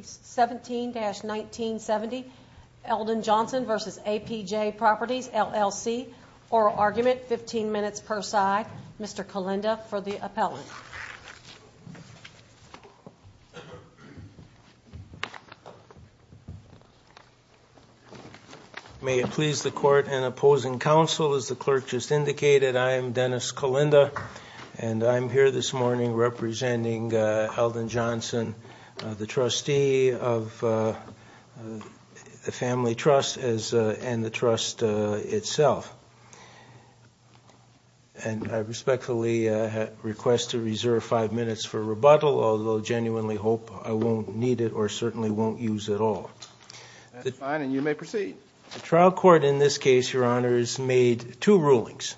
17-1970 Eldon Johnson v. APJ Properties LLC Oral Argument, 15 minutes per side Mr. Kalinda for the appellate May it please the court and opposing counsel As the clerk just indicated, I am Dennis Kalinda And I'm here this morning representing Eldon Johnson The trustee of the family trust and the trust itself And I respectfully request to reserve five minutes for rebuttal Although I genuinely hope I won't need it or certainly won't use it at all That's fine and you may proceed The trial court in this case, your honors, made two rulings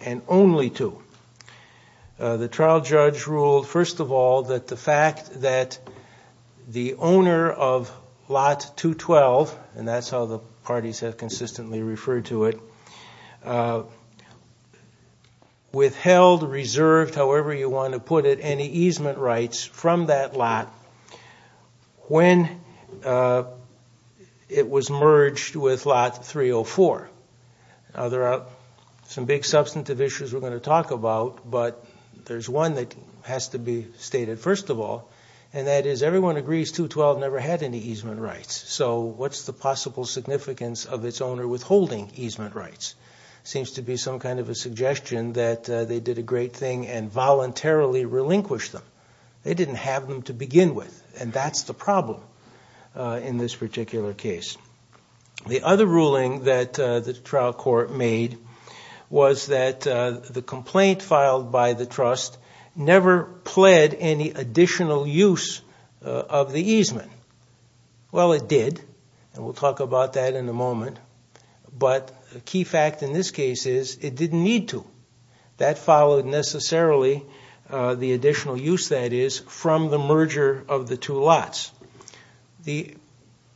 And only two The trial judge ruled, first of all, that the fact that The owner of lot 212, and that's how the parties have consistently referred to it Withheld, reserved, however you want to put it, any easement rights from that lot When it was merged with lot 304 Now there are some big substantive issues we're going to talk about But there's one that has to be stated first of all And that is everyone agrees 212 never had any easement rights So what's the possible significance of its owner withholding easement rights? Seems to be some kind of a suggestion that they did a great thing and voluntarily relinquished them They didn't have them to begin with and that's the problem in this particular case The other ruling that the trial court made was that The complaint filed by the trust never pled any additional use of the easement Well it did, and we'll talk about that in a moment But the key fact in this case is it didn't need to That followed necessarily the additional use that is from the merger of the two lots The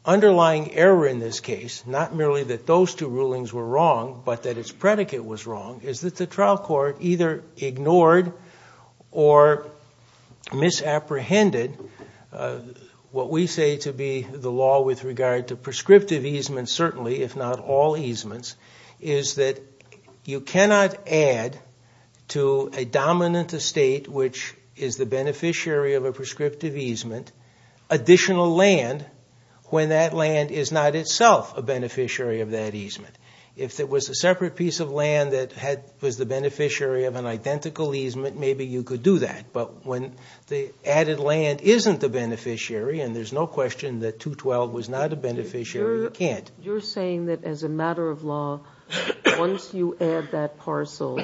underlying error in this case, not merely that those two rulings were wrong But that its predicate was wrong, is that the trial court either ignored or misapprehended What we say to be the law with regard to prescriptive easement certainly, if not all easements Is that you cannot add to a dominant estate which is the beneficiary of a prescriptive easement Additional land when that land is not itself a beneficiary of that easement If it was a separate piece of land that was the beneficiary of an identical easement Maybe you could do that, but when the added land isn't the beneficiary And there's no question that 212 was not a beneficiary, you can't You're saying that as a matter of law, once you add that parcel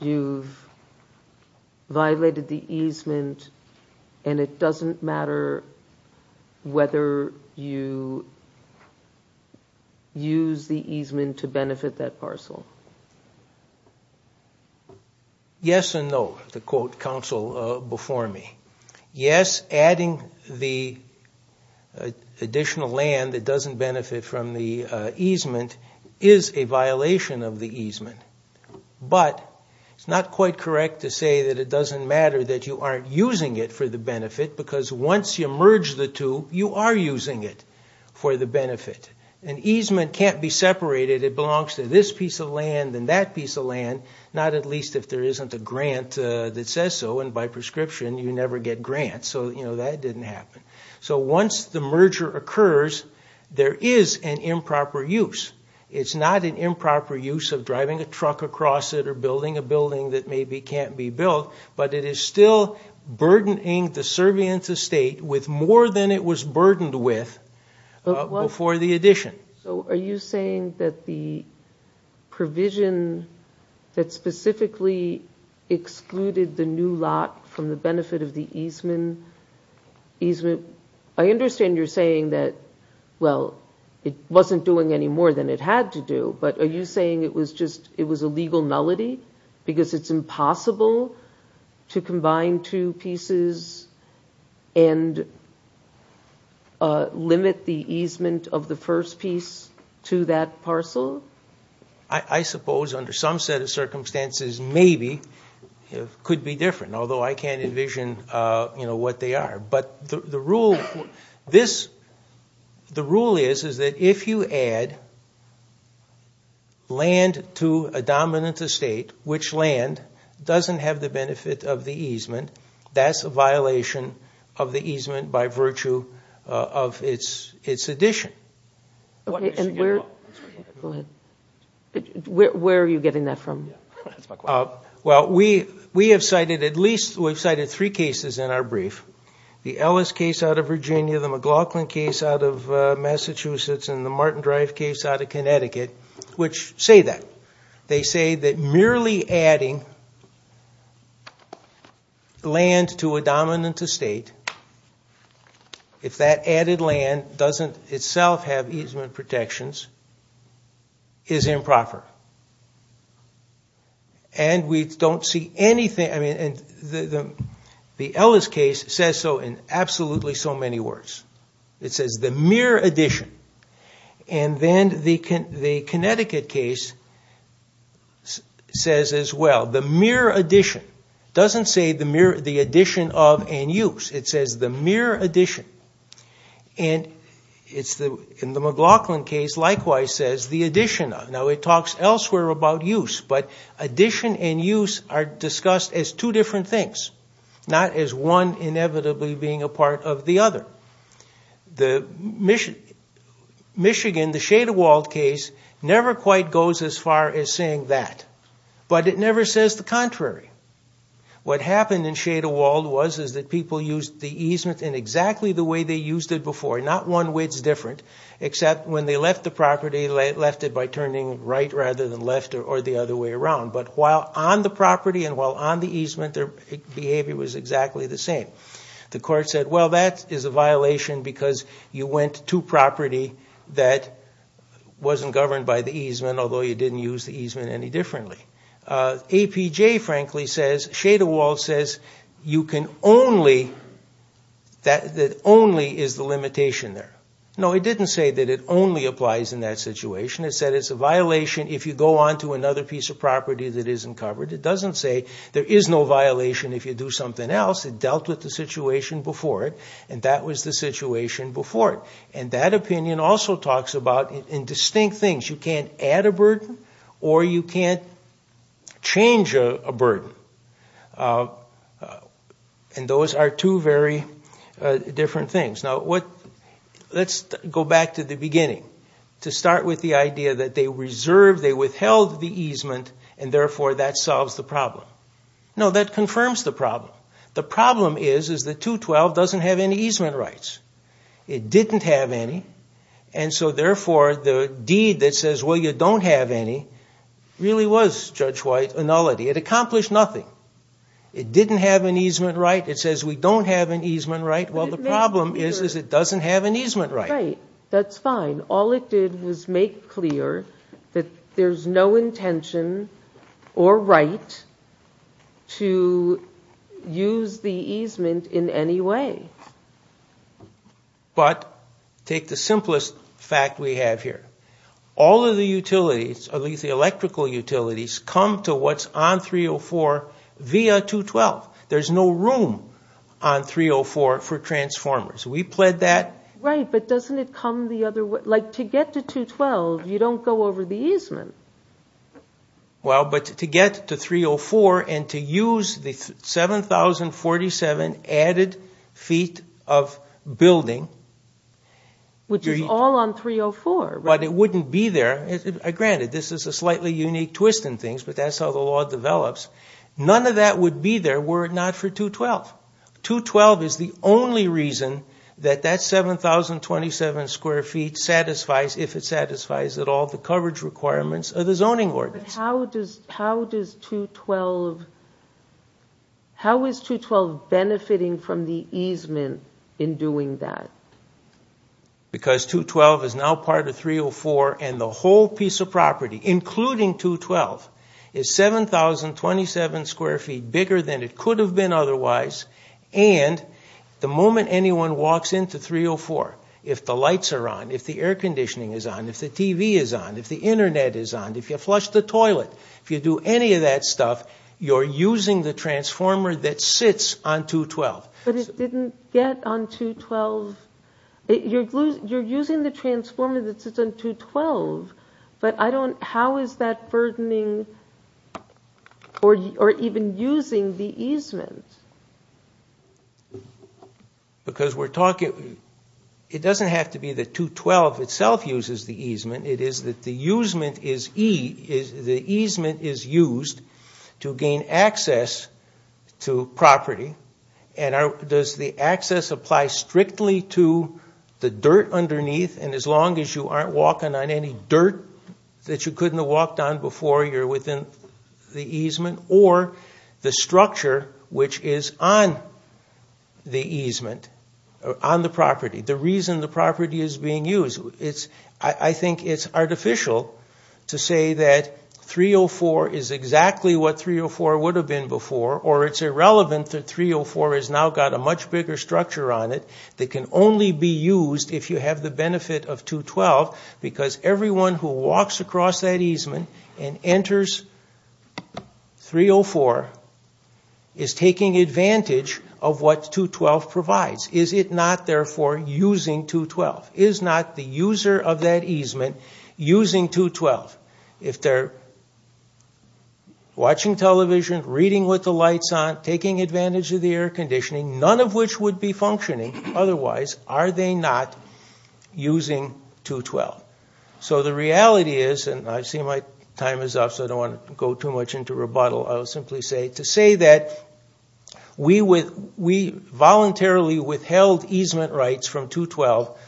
You've violated the easement, and it doesn't matter whether you use the easement to benefit that parcel Yes and no, to quote counsel before me Yes, adding the additional land that doesn't benefit from the easement is a violation of the easement But it's not quite correct to say that it doesn't matter that you aren't using it for the benefit Because once you merge the two, you are using it for the benefit An easement can't be separated, it belongs to this piece of land and that piece of land Not at least if there isn't a grant that says so, and by prescription you never get grants So that didn't happen So once the merger occurs, there is an improper use It's not an improper use of driving a truck across it or building a building that maybe can't be built But it is still burdening the servient estate with more than it was burdened with before the addition So are you saying that the provision that specifically excluded the new lot from the benefit of the easement I understand you're saying that, well, it wasn't doing any more than it had to do But are you saying it was a legal nullity? Because it's impossible to combine two pieces and limit the easement of the first piece to that parcel? I suppose under some set of circumstances, maybe, it could be different Although I can't envision what they are But the rule is that if you add land to a dominant estate, which land, doesn't have the benefit of the easement That's a violation of the easement by virtue of its addition Where are you getting that from? Well, we have cited at least three cases in our brief The Ellis case out of Virginia, the McLaughlin case out of Massachusetts And the Martin Drive case out of Connecticut, which say that They say that merely adding land to a dominant estate If that added land doesn't itself have easement protections, is improper And we don't see anything, I mean, the Ellis case says so in absolutely so many words It says the mere addition And then the Connecticut case says as well It doesn't say the addition of and use, it says the mere addition And in the McLaughlin case, likewise says the addition of Now it talks elsewhere about use, but addition and use are discussed as two different things Not as one inevitably being a part of the other The Michigan, the Shade of Wald case, never quite goes as far as saying that But it never says the contrary What happened in Shade of Wald was that people used the easement in exactly the way they used it before Not one way it's different, except when they left the property Left it by turning right rather than left or the other way around But while on the property and while on the easement, their behavior was exactly the same The court said, well that is a violation because you went to property that wasn't governed by the easement Although you didn't use the easement any differently APJ frankly says, Shade of Wald says, you can only, that only is the limitation there No, it didn't say that it only applies in that situation It said it's a violation if you go on to another piece of property that isn't covered It doesn't say there is no violation if you do something else It dealt with the situation before it, and that was the situation before it And that opinion also talks about, in distinct things, you can't add a burden or you can't change a burden And those are two very different things Now, let's go back to the beginning To start with the idea that they reserved, they withheld the easement And therefore that solves the problem No, that confirms the problem The problem is, is that 212 doesn't have any easement rights It didn't have any And so therefore the deed that says, well you don't have any Really was, Judge White, a nullity It accomplished nothing It didn't have an easement right It says we don't have an easement right Well the problem is, is it doesn't have an easement right Right, that's fine All it did was make clear that there's no intention or right to use the easement in any way But, take the simplest fact we have here All of the utilities, at least the electrical utilities, come to what's on 304 via 212 There's no room on 304 for transformers We pled that Right, but doesn't it come the other way Like to get to 212, you don't go over the easement Well, but to get to 304 and to use the 7047 added feet of building Which is all on 304 But it wouldn't be there Granted, this is a slightly unique twist in things, but that's how the law develops None of that would be there were it not for 212 212 is the only reason that that 7027 square feet satisfies, if it satisfies at all, the coverage requirements of the zoning ordinance But how does 212, how is 212 benefiting from the easement in doing that Because 212 is now part of 304 and the whole piece of property, including 212 Is 7027 square feet bigger than it could have been otherwise And the moment anyone walks into 304 If the lights are on, if the air conditioning is on, if the TV is on, if the internet is on If you flush the toilet, if you do any of that stuff You're using the transformer that sits on 212 But it didn't get on 212 You're using the transformer that sits on 212 But I don't, how is that burdening Or even using the easement Because we're talking It doesn't have to be that 212 itself uses the easement It is that the easement is used To gain access to property And does the access apply strictly to the dirt underneath And as long as you aren't walking on any dirt That you couldn't have walked on before you're within the easement Or the structure which is on the easement On the property, the reason the property is being used I think it's artificial to say that 304 is exactly what 304 would have been before Or it's irrelevant that 304 has now got a much bigger structure on it That can only be used if you have the benefit of 212 Because everyone who walks across that easement And enters 304 is taking advantage of what 212 provides Is it not therefore using 212 Is not the user of that easement using 212 If they're watching television, reading with the lights on Taking advantage of the air conditioning None of which would be functioning otherwise Are they not using 212 So the reality is, and I see my time is up So I don't want to go too much into rebuttal I'll simply say to say that We voluntarily withheld easement rights from 212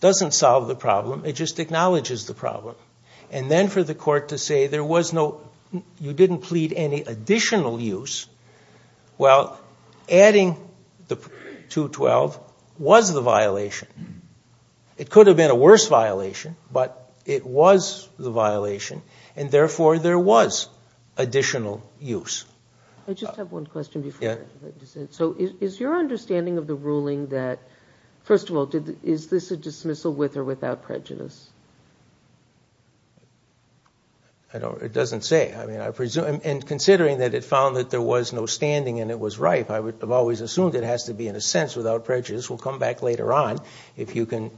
Doesn't solve the problem, it just acknowledges the problem And then for the court to say there was no You didn't plead any additional use Well, adding the 212 was the violation It could have been a worse violation But it was the violation And therefore there was additional use I just have one question before So is your understanding of the ruling that First of all, is this a dismissal with or without prejudice It doesn't say And considering that it found that there was no standing And it was ripe I've always assumed it has to be in a sense without prejudice We'll come back later on If you can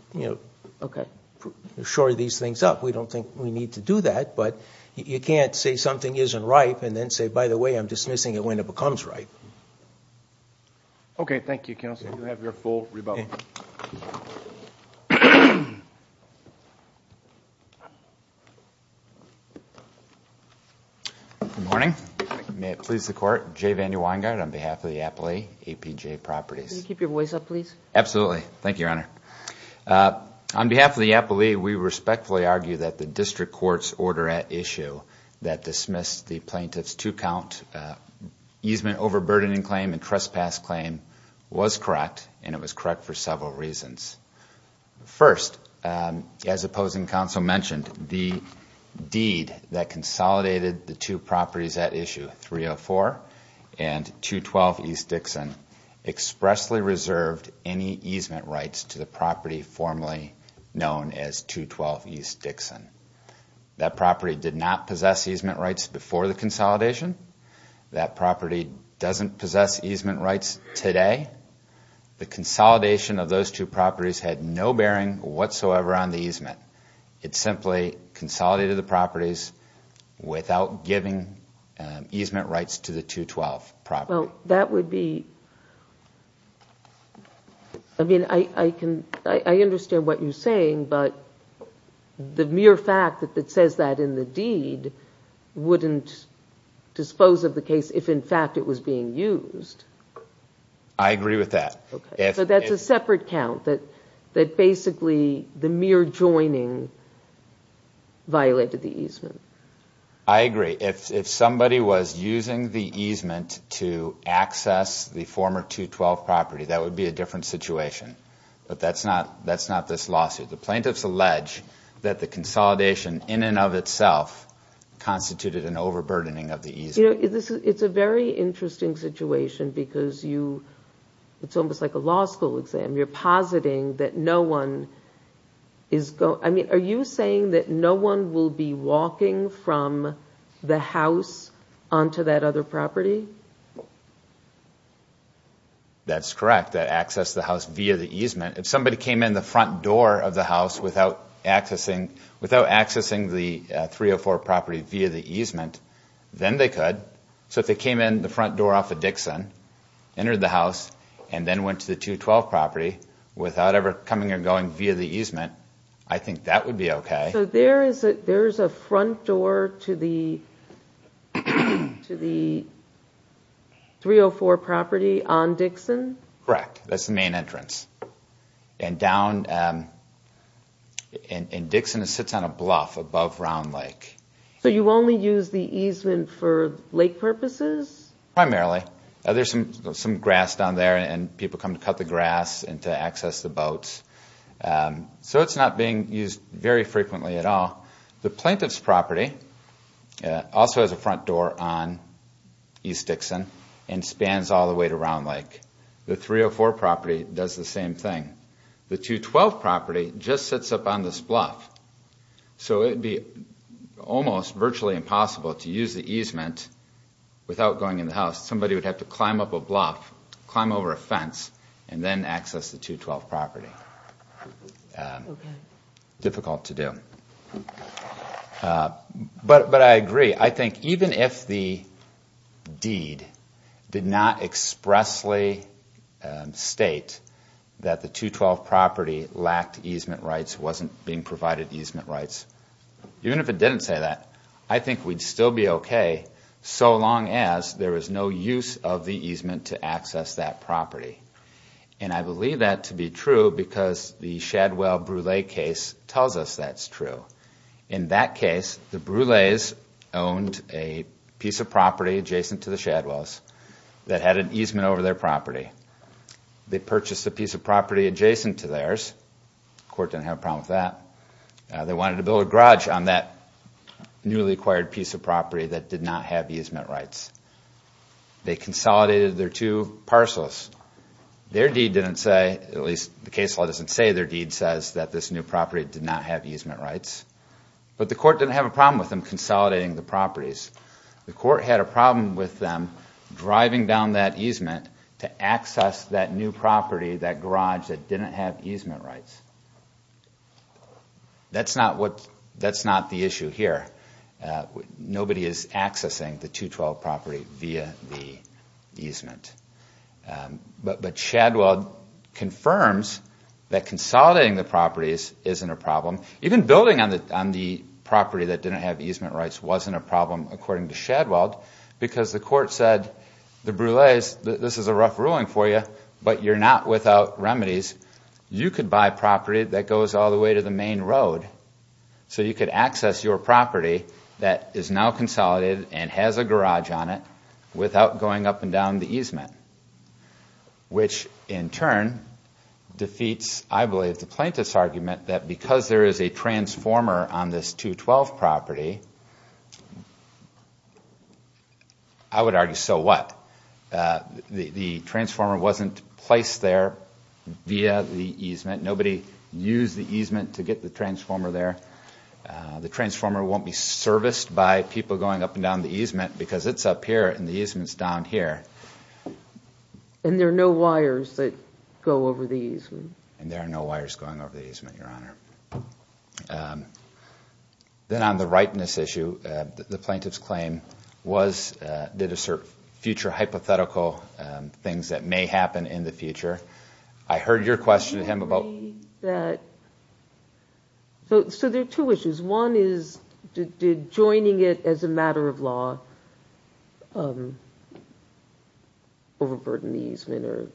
shore these things up We don't think we need to do that But you can't say something isn't ripe And then say, by the way, I'm dismissing it when it becomes ripe Okay, thank you, counsel You have your full rebuttal Good morning May it please the court Jay Vandy Weingart on behalf of the Appellee APJ Properties Can you keep your voice up, please? Absolutely Thank you, your honor On behalf of the Appellee We respectfully argue that the district court's order at issue That dismissed the plaintiff's two count Easement overburdening claim and trespass claim Was correct And it was correct for several reasons First, as opposing counsel mentioned The deed that consolidated the two properties at issue 304 and 212 East Dixon Expressly reserved any easement rights to the property Formally known as 212 East Dixon That property did not possess easement rights before the consolidation That property doesn't possess easement rights today The consolidation of those two properties Had no bearing whatsoever on the easement It simply consolidated the properties Without giving easement rights to the 212 property Well, that would be I mean, I understand what you're saying But the mere fact that it says that in the deed Wouldn't dispose of the case if in fact it was being used I agree with that So that's a separate count That basically the mere joining Violated the easement I agree If somebody was using the easement To access the former 212 property That would be a different situation But that's not this lawsuit The plaintiffs allege that the consolidation in and of itself Constituted an overburdening of the easement You know, it's a very interesting situation Because you It's almost like a law school exam You're positing that no one is going I mean, are you saying that no one will be walking From the house onto that other property? That's correct That access to the house via the easement If somebody came in the front door of the house Without accessing the 304 property via the easement Then they could So if they came in the front door off of Dixon Entered the house And then went to the 212 property Without ever coming or going via the easement I think that would be okay So there is a front door to the 304 property on Dixon? Correct That's the main entrance And Dixon sits on a bluff above Round Lake So you only use the easement for lake purposes? Primarily There is some grass down there And people come to cut the grass And to access the boats So it's not being used very frequently at all The plaintiff's property Also has a front door on East Dixon And spans all the way to Round Lake The 304 property does the same thing The 212 property just sits up on this bluff So it would be almost virtually impossible To use the easement without going in the house Somebody would have to climb up a bluff Climb over a fence And then access the 212 property Difficult to do But I agree I think even if the deed Did not expressly state That the 212 property lacked easement rights Wasn't being provided easement rights Even if it didn't say that I think we'd still be okay So long as there is no use of the easement To access that property And I believe that to be true Because the Shadwell Brule case Tells us that's true In that case, the Brule's Owned a piece of property Adjacent to the Shadwell's That had an easement over their property They purchased a piece of property Adjacent to theirs Court didn't have a problem with that They wanted to build a garage on that Newly acquired piece of property That did not have easement rights They consolidated their two parcels Their deed didn't say At least the case law doesn't say Their deed says that this new property Did not have easement rights But the court didn't have a problem with them Consolidating the properties The court had a problem with them Driving down that easement To access that new property That garage that didn't have easement rights That's not the issue here Nobody is accessing the 212 property Via the easement But Shadwell confirms That consolidating the properties Isn't a problem Even building on the property That didn't have easement rights Wasn't a problem according to Shadwell Because the court said The Brule's, this is a rough ruling for you But you're not without remedies You could buy property that goes All the way to the main road So you could access your property That is now consolidated And has a garage on it Without going up and down the easement Which in turn Defeats, I believe, the plaintiff's argument That because there is a transformer On this 212 property I would argue, so what? The transformer wasn't placed there Via the easement Nobody used the easement To get the transformer there The transformer won't be serviced By people going up and down the easement Because it's up here And the easement's down here And there are no wires That go over the easement And there are no wires Going over the easement, Your Honor Then on the rightness issue The plaintiff's claim Did assert future hypothetical things That may happen in the future I heard your question to him about So there are two issues One is joining it as a matter of law Overburden the easement Or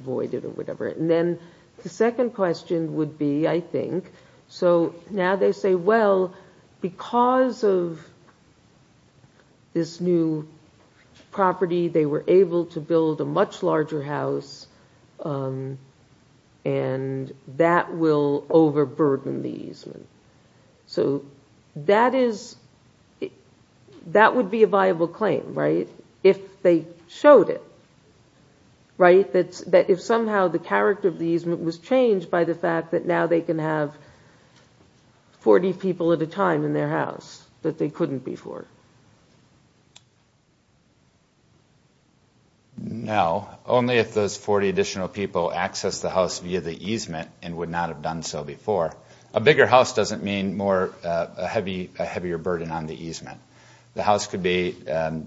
void it or whatever And then the second question would be I think So now they say, well Because of this new property They were able to build a much larger house And that will overburden the easement So that is That would be a viable claim, right? If they showed it Right? That if somehow the character of the easement Was changed by the fact that now they can have 40 people at a time in their house That they couldn't before No Only if those 40 additional people Access the house via the easement And would not have done so before A bigger house doesn't mean more A heavier burden on the easement The house could be 10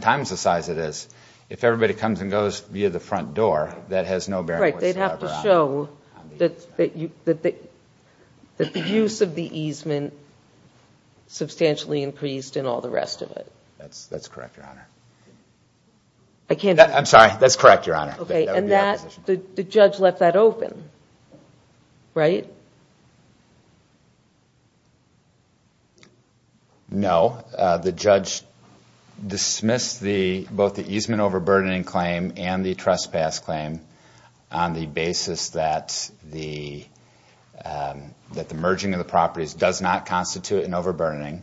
times the size it is If everybody comes and goes via the front door That has no bearing whatsoever on it Right, they'd have to show That the use of the easement Substantially increased in all the rest of it That's correct, Your Honor I can't I'm sorry, that's correct, Your Honor Okay, and that The judge left that open Right? No, the judge Dismissed the Both the easement overburdening claim And the trespass claim On the basis that the That the merging of the properties Does not constitute an overburdening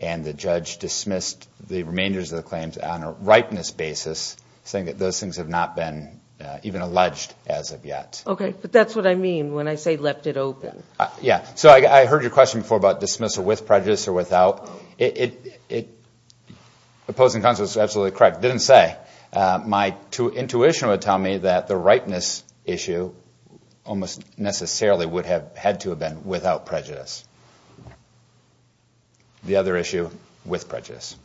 And the judge dismissed The remainders of the claims On a ripeness basis Saying that those things have not been Even alleged as of yet Okay, but that's what I mean When I say left it open Yeah, so I heard your question before About dismissal with prejudice or without It Opposing counsel is absolutely correct Didn't say My intuition would tell me That the ripeness issue Almost necessarily would have Had to have been without prejudice The other issue with prejudice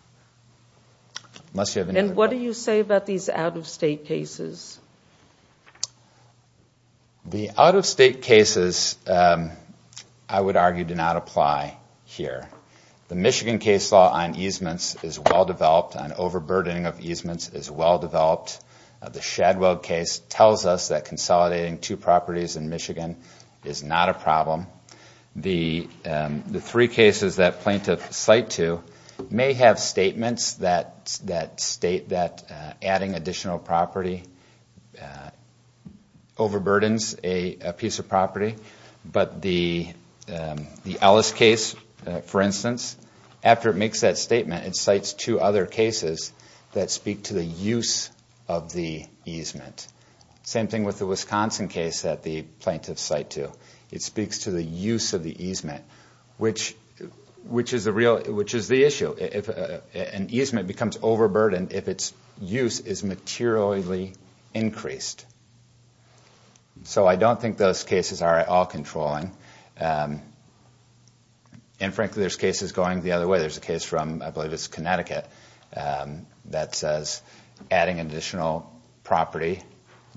Unless you have another And what do you say about these out-of-state cases? The out-of-state cases I would argue do not apply here The Michigan case law on easements Is well-developed An overburdening of easements The Shadwell case tells us That consolidating two properties in Michigan Is not a problem The three cases that plaintiff cite to May have statements that state That adding additional property Overburdens a piece of property But the Ellis case, for instance After it makes that statement It cites two other cases That speak to the use of the easement Same thing with the Wisconsin case That the plaintiff cite to It speaks to the use of the easement Which is the issue An easement becomes overburdened If its use is materially increased So I don't think those cases Are at all controlling And frankly there's cases going the other way There's a case from I believe it's Connecticut That says adding additional property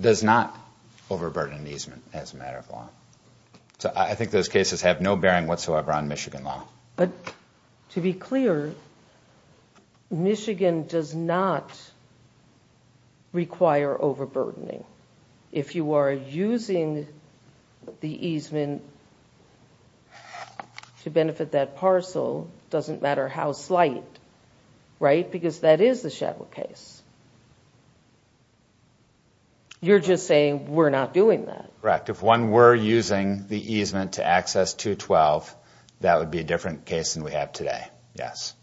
Does not overburden an easement As a matter of law So I think those cases Have no bearing whatsoever On Michigan law But to be clear Michigan does not Require overburdening If you are using the easement To benefit that parcel Doesn't matter how slight Right? Because that is the Shadwell case You're just saying We're not doing that Correct If one were using the easement To access 212 That would be a different case Than we have today Yes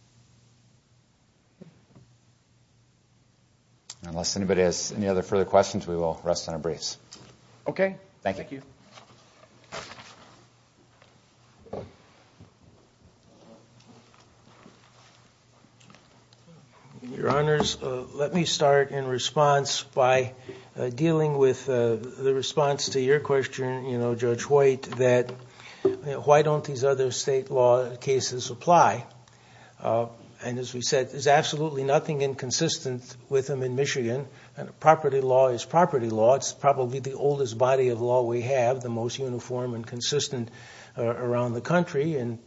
Unless anybody has Any other further questions We will rest on our briefs Okay Thank you Thank you Your honors Let me start in response By dealing with The response to your question You know Judge White That why don't these other State law cases apply And as we said There's absolutely nothing Inconsistent with them in Michigan Property law is property law It's probably the oldest body of law We have The most uniform and consistent Around the country And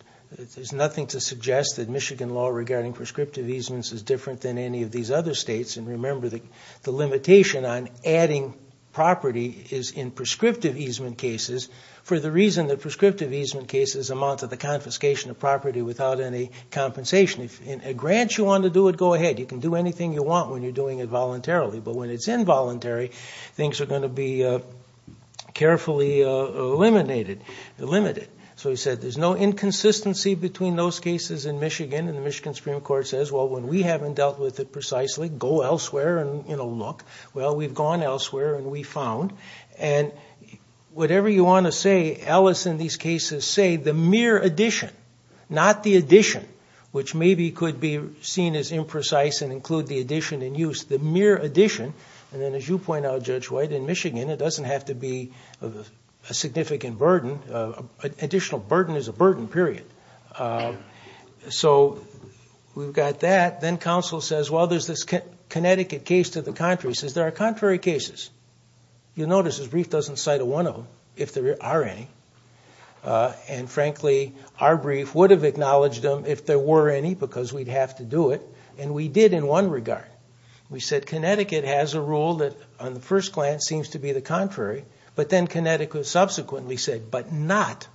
there's nothing to suggest That Michigan law Regarding prescriptive easements Is different than Any of these other states And remember The limitation on adding property Is in prescriptive easement cases For the reason that Prescriptive easement cases Amount to the confiscation of property Without any compensation If in a grant you want to do it Go ahead You can do anything you want When you're doing it voluntarily But when it's involuntary Things are going to be Carefully eliminated So he said There's no inconsistency Between those cases in Michigan And the Michigan Supreme Court says Well when we haven't Dealt with it precisely Go elsewhere and look Well we've gone elsewhere And we found And whatever you want to say Alice in these cases say The mere addition Not the addition Which maybe could be Seen as imprecise And include the addition in use The mere addition And then as you point out Judge White In Michigan It doesn't have to be A significant burden An additional burden Is a burden period So we've got that Then counsel says Well there's this Connecticut case To the contrary He says There are contrary cases You'll notice His brief doesn't cite one of them If there are any And frankly Our brief would have Acknowledged them If there were any Because we'd have to do it And we did in one regard We said Connecticut has a rule That on the first glance Seems to be the contrary But then Connecticut Subsequently said But not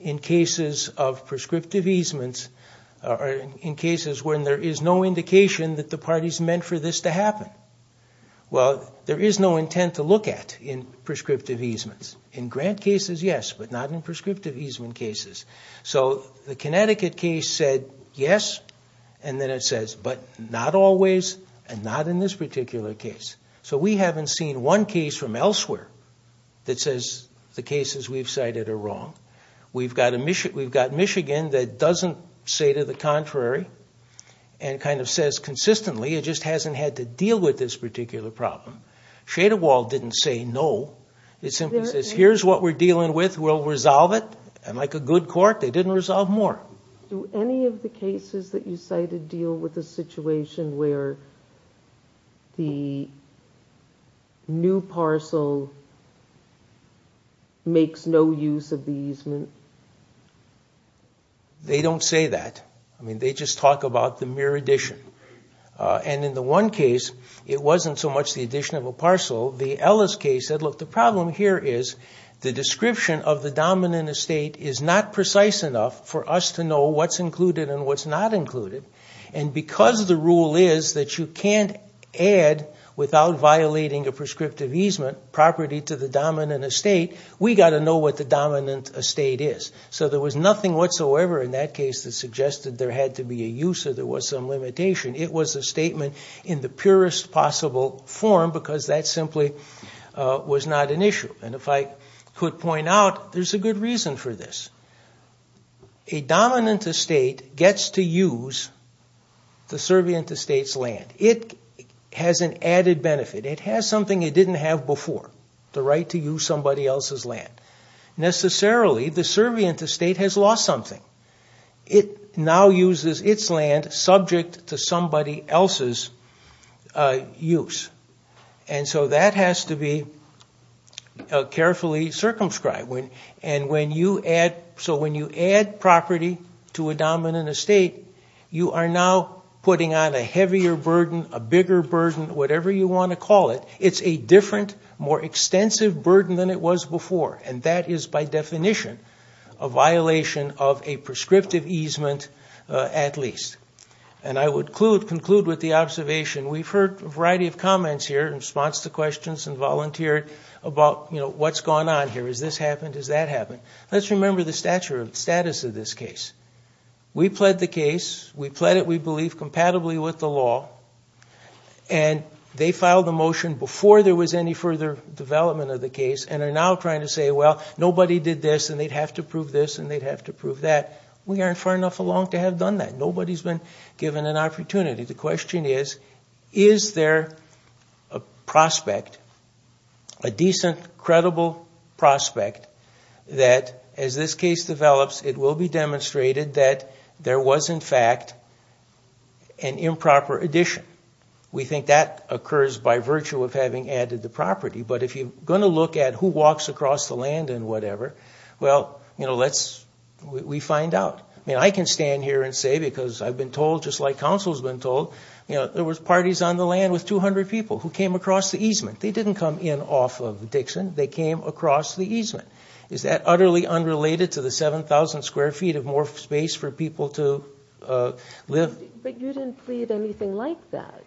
in cases Of prescriptive easements Or in cases When there is no indication That the parties meant For this to happen Well there is no intent To look at In prescriptive easements In grant cases yes But not in prescriptive easement cases So the Connecticut case said Yes And then it says But not always And not in this particular case So we haven't seen one case From elsewhere That says The cases we've cited are wrong We've got Michigan That doesn't say to the contrary And kind of says consistently It just hasn't had to deal With this particular problem Schadewald didn't say no It simply says Here's what we're dealing with We'll resolve it And like a good court They didn't resolve more Do any of the cases That you cited Deal with a situation Where the new parcel Makes no use of the easement They don't say that I mean they just talk about The mere addition And in the one case It wasn't so much The addition of a parcel The Ellis case said Look the problem here is The description of the dominant estate Is not precise enough For us to know What's included And what's not included And because the rule is That you can't add Without violating A prescriptive easement property To the dominant estate We've got to know What the dominant estate is So there was nothing whatsoever In that case That suggested There had to be a use Or there was some limitation It was a statement In the purest possible form Because that simply Was not an issue And if I could point out There's a good reason for this A dominant estate Gets to use The servient estate's land It has an added benefit It has something It didn't have before The right to use Somebody else's land Necessarily The servient estate Has lost something It now uses its land Subject to somebody else's use And so that has to be Carefully circumscribed And when you add So when you add property To a dominant estate You are now Putting on a heavier burden A bigger burden Whatever you want to call it It's a different More extensive burden Than it was before And that is by definition A violation Of a prescriptive easement At least And I would conclude With the observation We've heard a variety of comments here In response to questions And volunteered About what's going on here Has this happened Has that happened Let's remember the status Of this case We pled the case We pled it We believe Compatibly with the law And they filed a motion Before there was any further Development of the case And are now trying to say Well nobody did this And they'd have to prove this And they'd have to prove that We aren't far enough along To have done that Nobody's been given an opportunity The question is Is there a prospect A decent credible prospect That as this case develops It will be demonstrated That there was in fact An improper addition We think that occurs By virtue of having added the property But if you're going to look at Who walks across the land And whatever Well you know Let's We find out I mean I can stand here and say Because I've been told Just like counsel's been told There was parties on the land With 200 people Who came across the easement They didn't come in off of Dixon They came across the easement Is that utterly unrelated To the 7,000 square feet Of more space for people to live But you didn't plead anything like that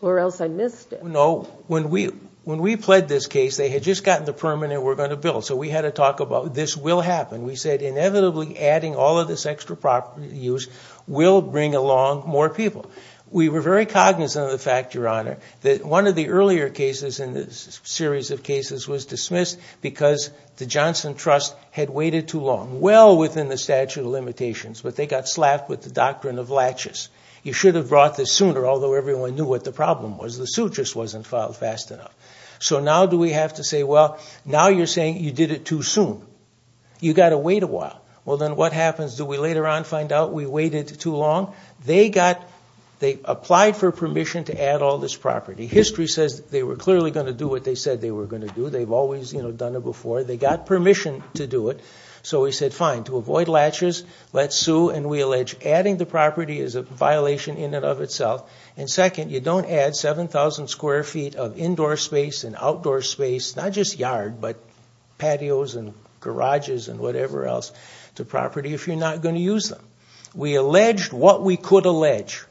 Or else I missed it No When we When we pled this case They had just gotten the permit And were going to build So we had to talk about This will happen We said inevitably Adding all of this extra property use Will bring along more people We were very cognizant of the fact Your honor That one of the earlier cases In this series of cases Was dismissed Because the Johnson Trust Had waited too long Well within the statute of limitations But they got slapped With the doctrine of latches You should have brought this sooner Although everyone knew What the problem was The suit just wasn't filed fast enough So now do we have to say Well now you're saying You did it too soon You got to wait a while Well then what happens Do we later on find out We waited too long They got They applied for permission To add all this property History says They were clearly going to do What they said they were going to do They've always done it before They got permission to do it So we said fine To avoid latches Let's sue And we allege Adding the property Is a violation in and of itself And second You don't add 7,000 square feet Of indoor space And outdoor space Not just yard But patios And garages And whatever else To property If you're not going to use them We alleged What we could allege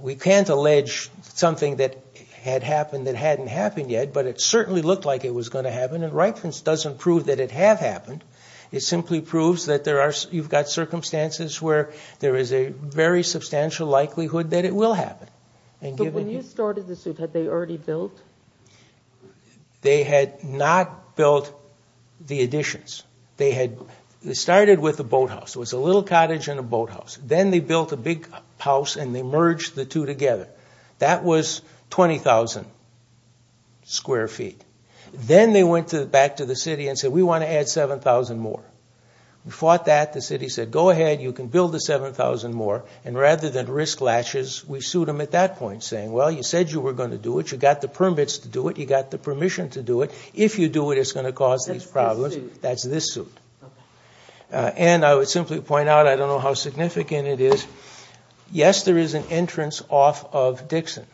We can't allege Something that had happened That hadn't happened yet But it certainly looked like It was going to happen And Reifens doesn't prove That it have happened It simply proves That there are You've got circumstances Where there is a Very substantial likelihood That it will happen But when you started the suit Had they already built They had not built The additions They had They started with a boathouse It was a little cottage And a boathouse Then they built a big house And they merged the two together That was 20,000 Square feet Then they went back to the city And said We want to add 7,000 more We fought that The city said Go ahead You can build the 7,000 more And rather than risk latches We sued them at that point Saying well you said You were going to do it You got the permits to do it You got the permission to do it If you do it It's going to cause these problems That's this suit That's this suit And I would simply point out I don't know how significant it is Yes there is an entrance Off of Dixon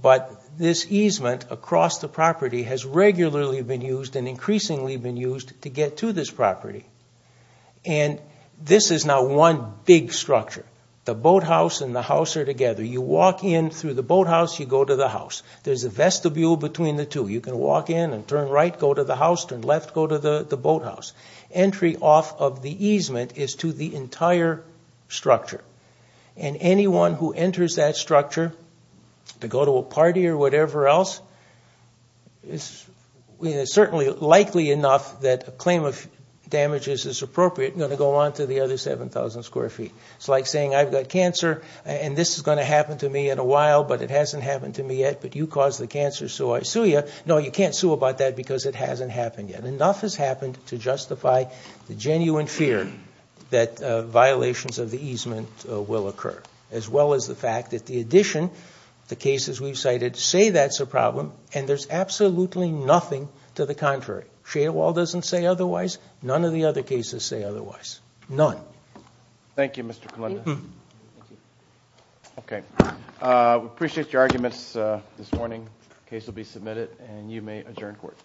But this easement Across the property Has regularly been used And increasingly been used To get to this property And this is now one big structure The boathouse and the house Are together You walk in through the boathouse You go to the house There's a vestibule between the two You can walk in And turn right Go to the house Turn left Go to the boathouse Entry off of the easement Is to the entire structure And anyone who enters that structure To go to a party Or whatever else It's certainly likely enough That a claim of damages is appropriate To go on to the other Seven thousand square feet It's like saying I've got cancer And this is going to happen To me in a while But it hasn't happened to me yet But you caused the cancer So I sue you No you can't sue about that Because it hasn't happened yet Enough has happened To justify the genuine fear That violations of the easement Will occur As well as the fact That in addition The cases we've cited Say that's a problem And there's absolutely nothing To the contrary Shadowall doesn't say otherwise None of the other cases say otherwise None Thank you Mr. Colenda Okay We appreciate your arguments this morning The case will be submitted And you may adjourn court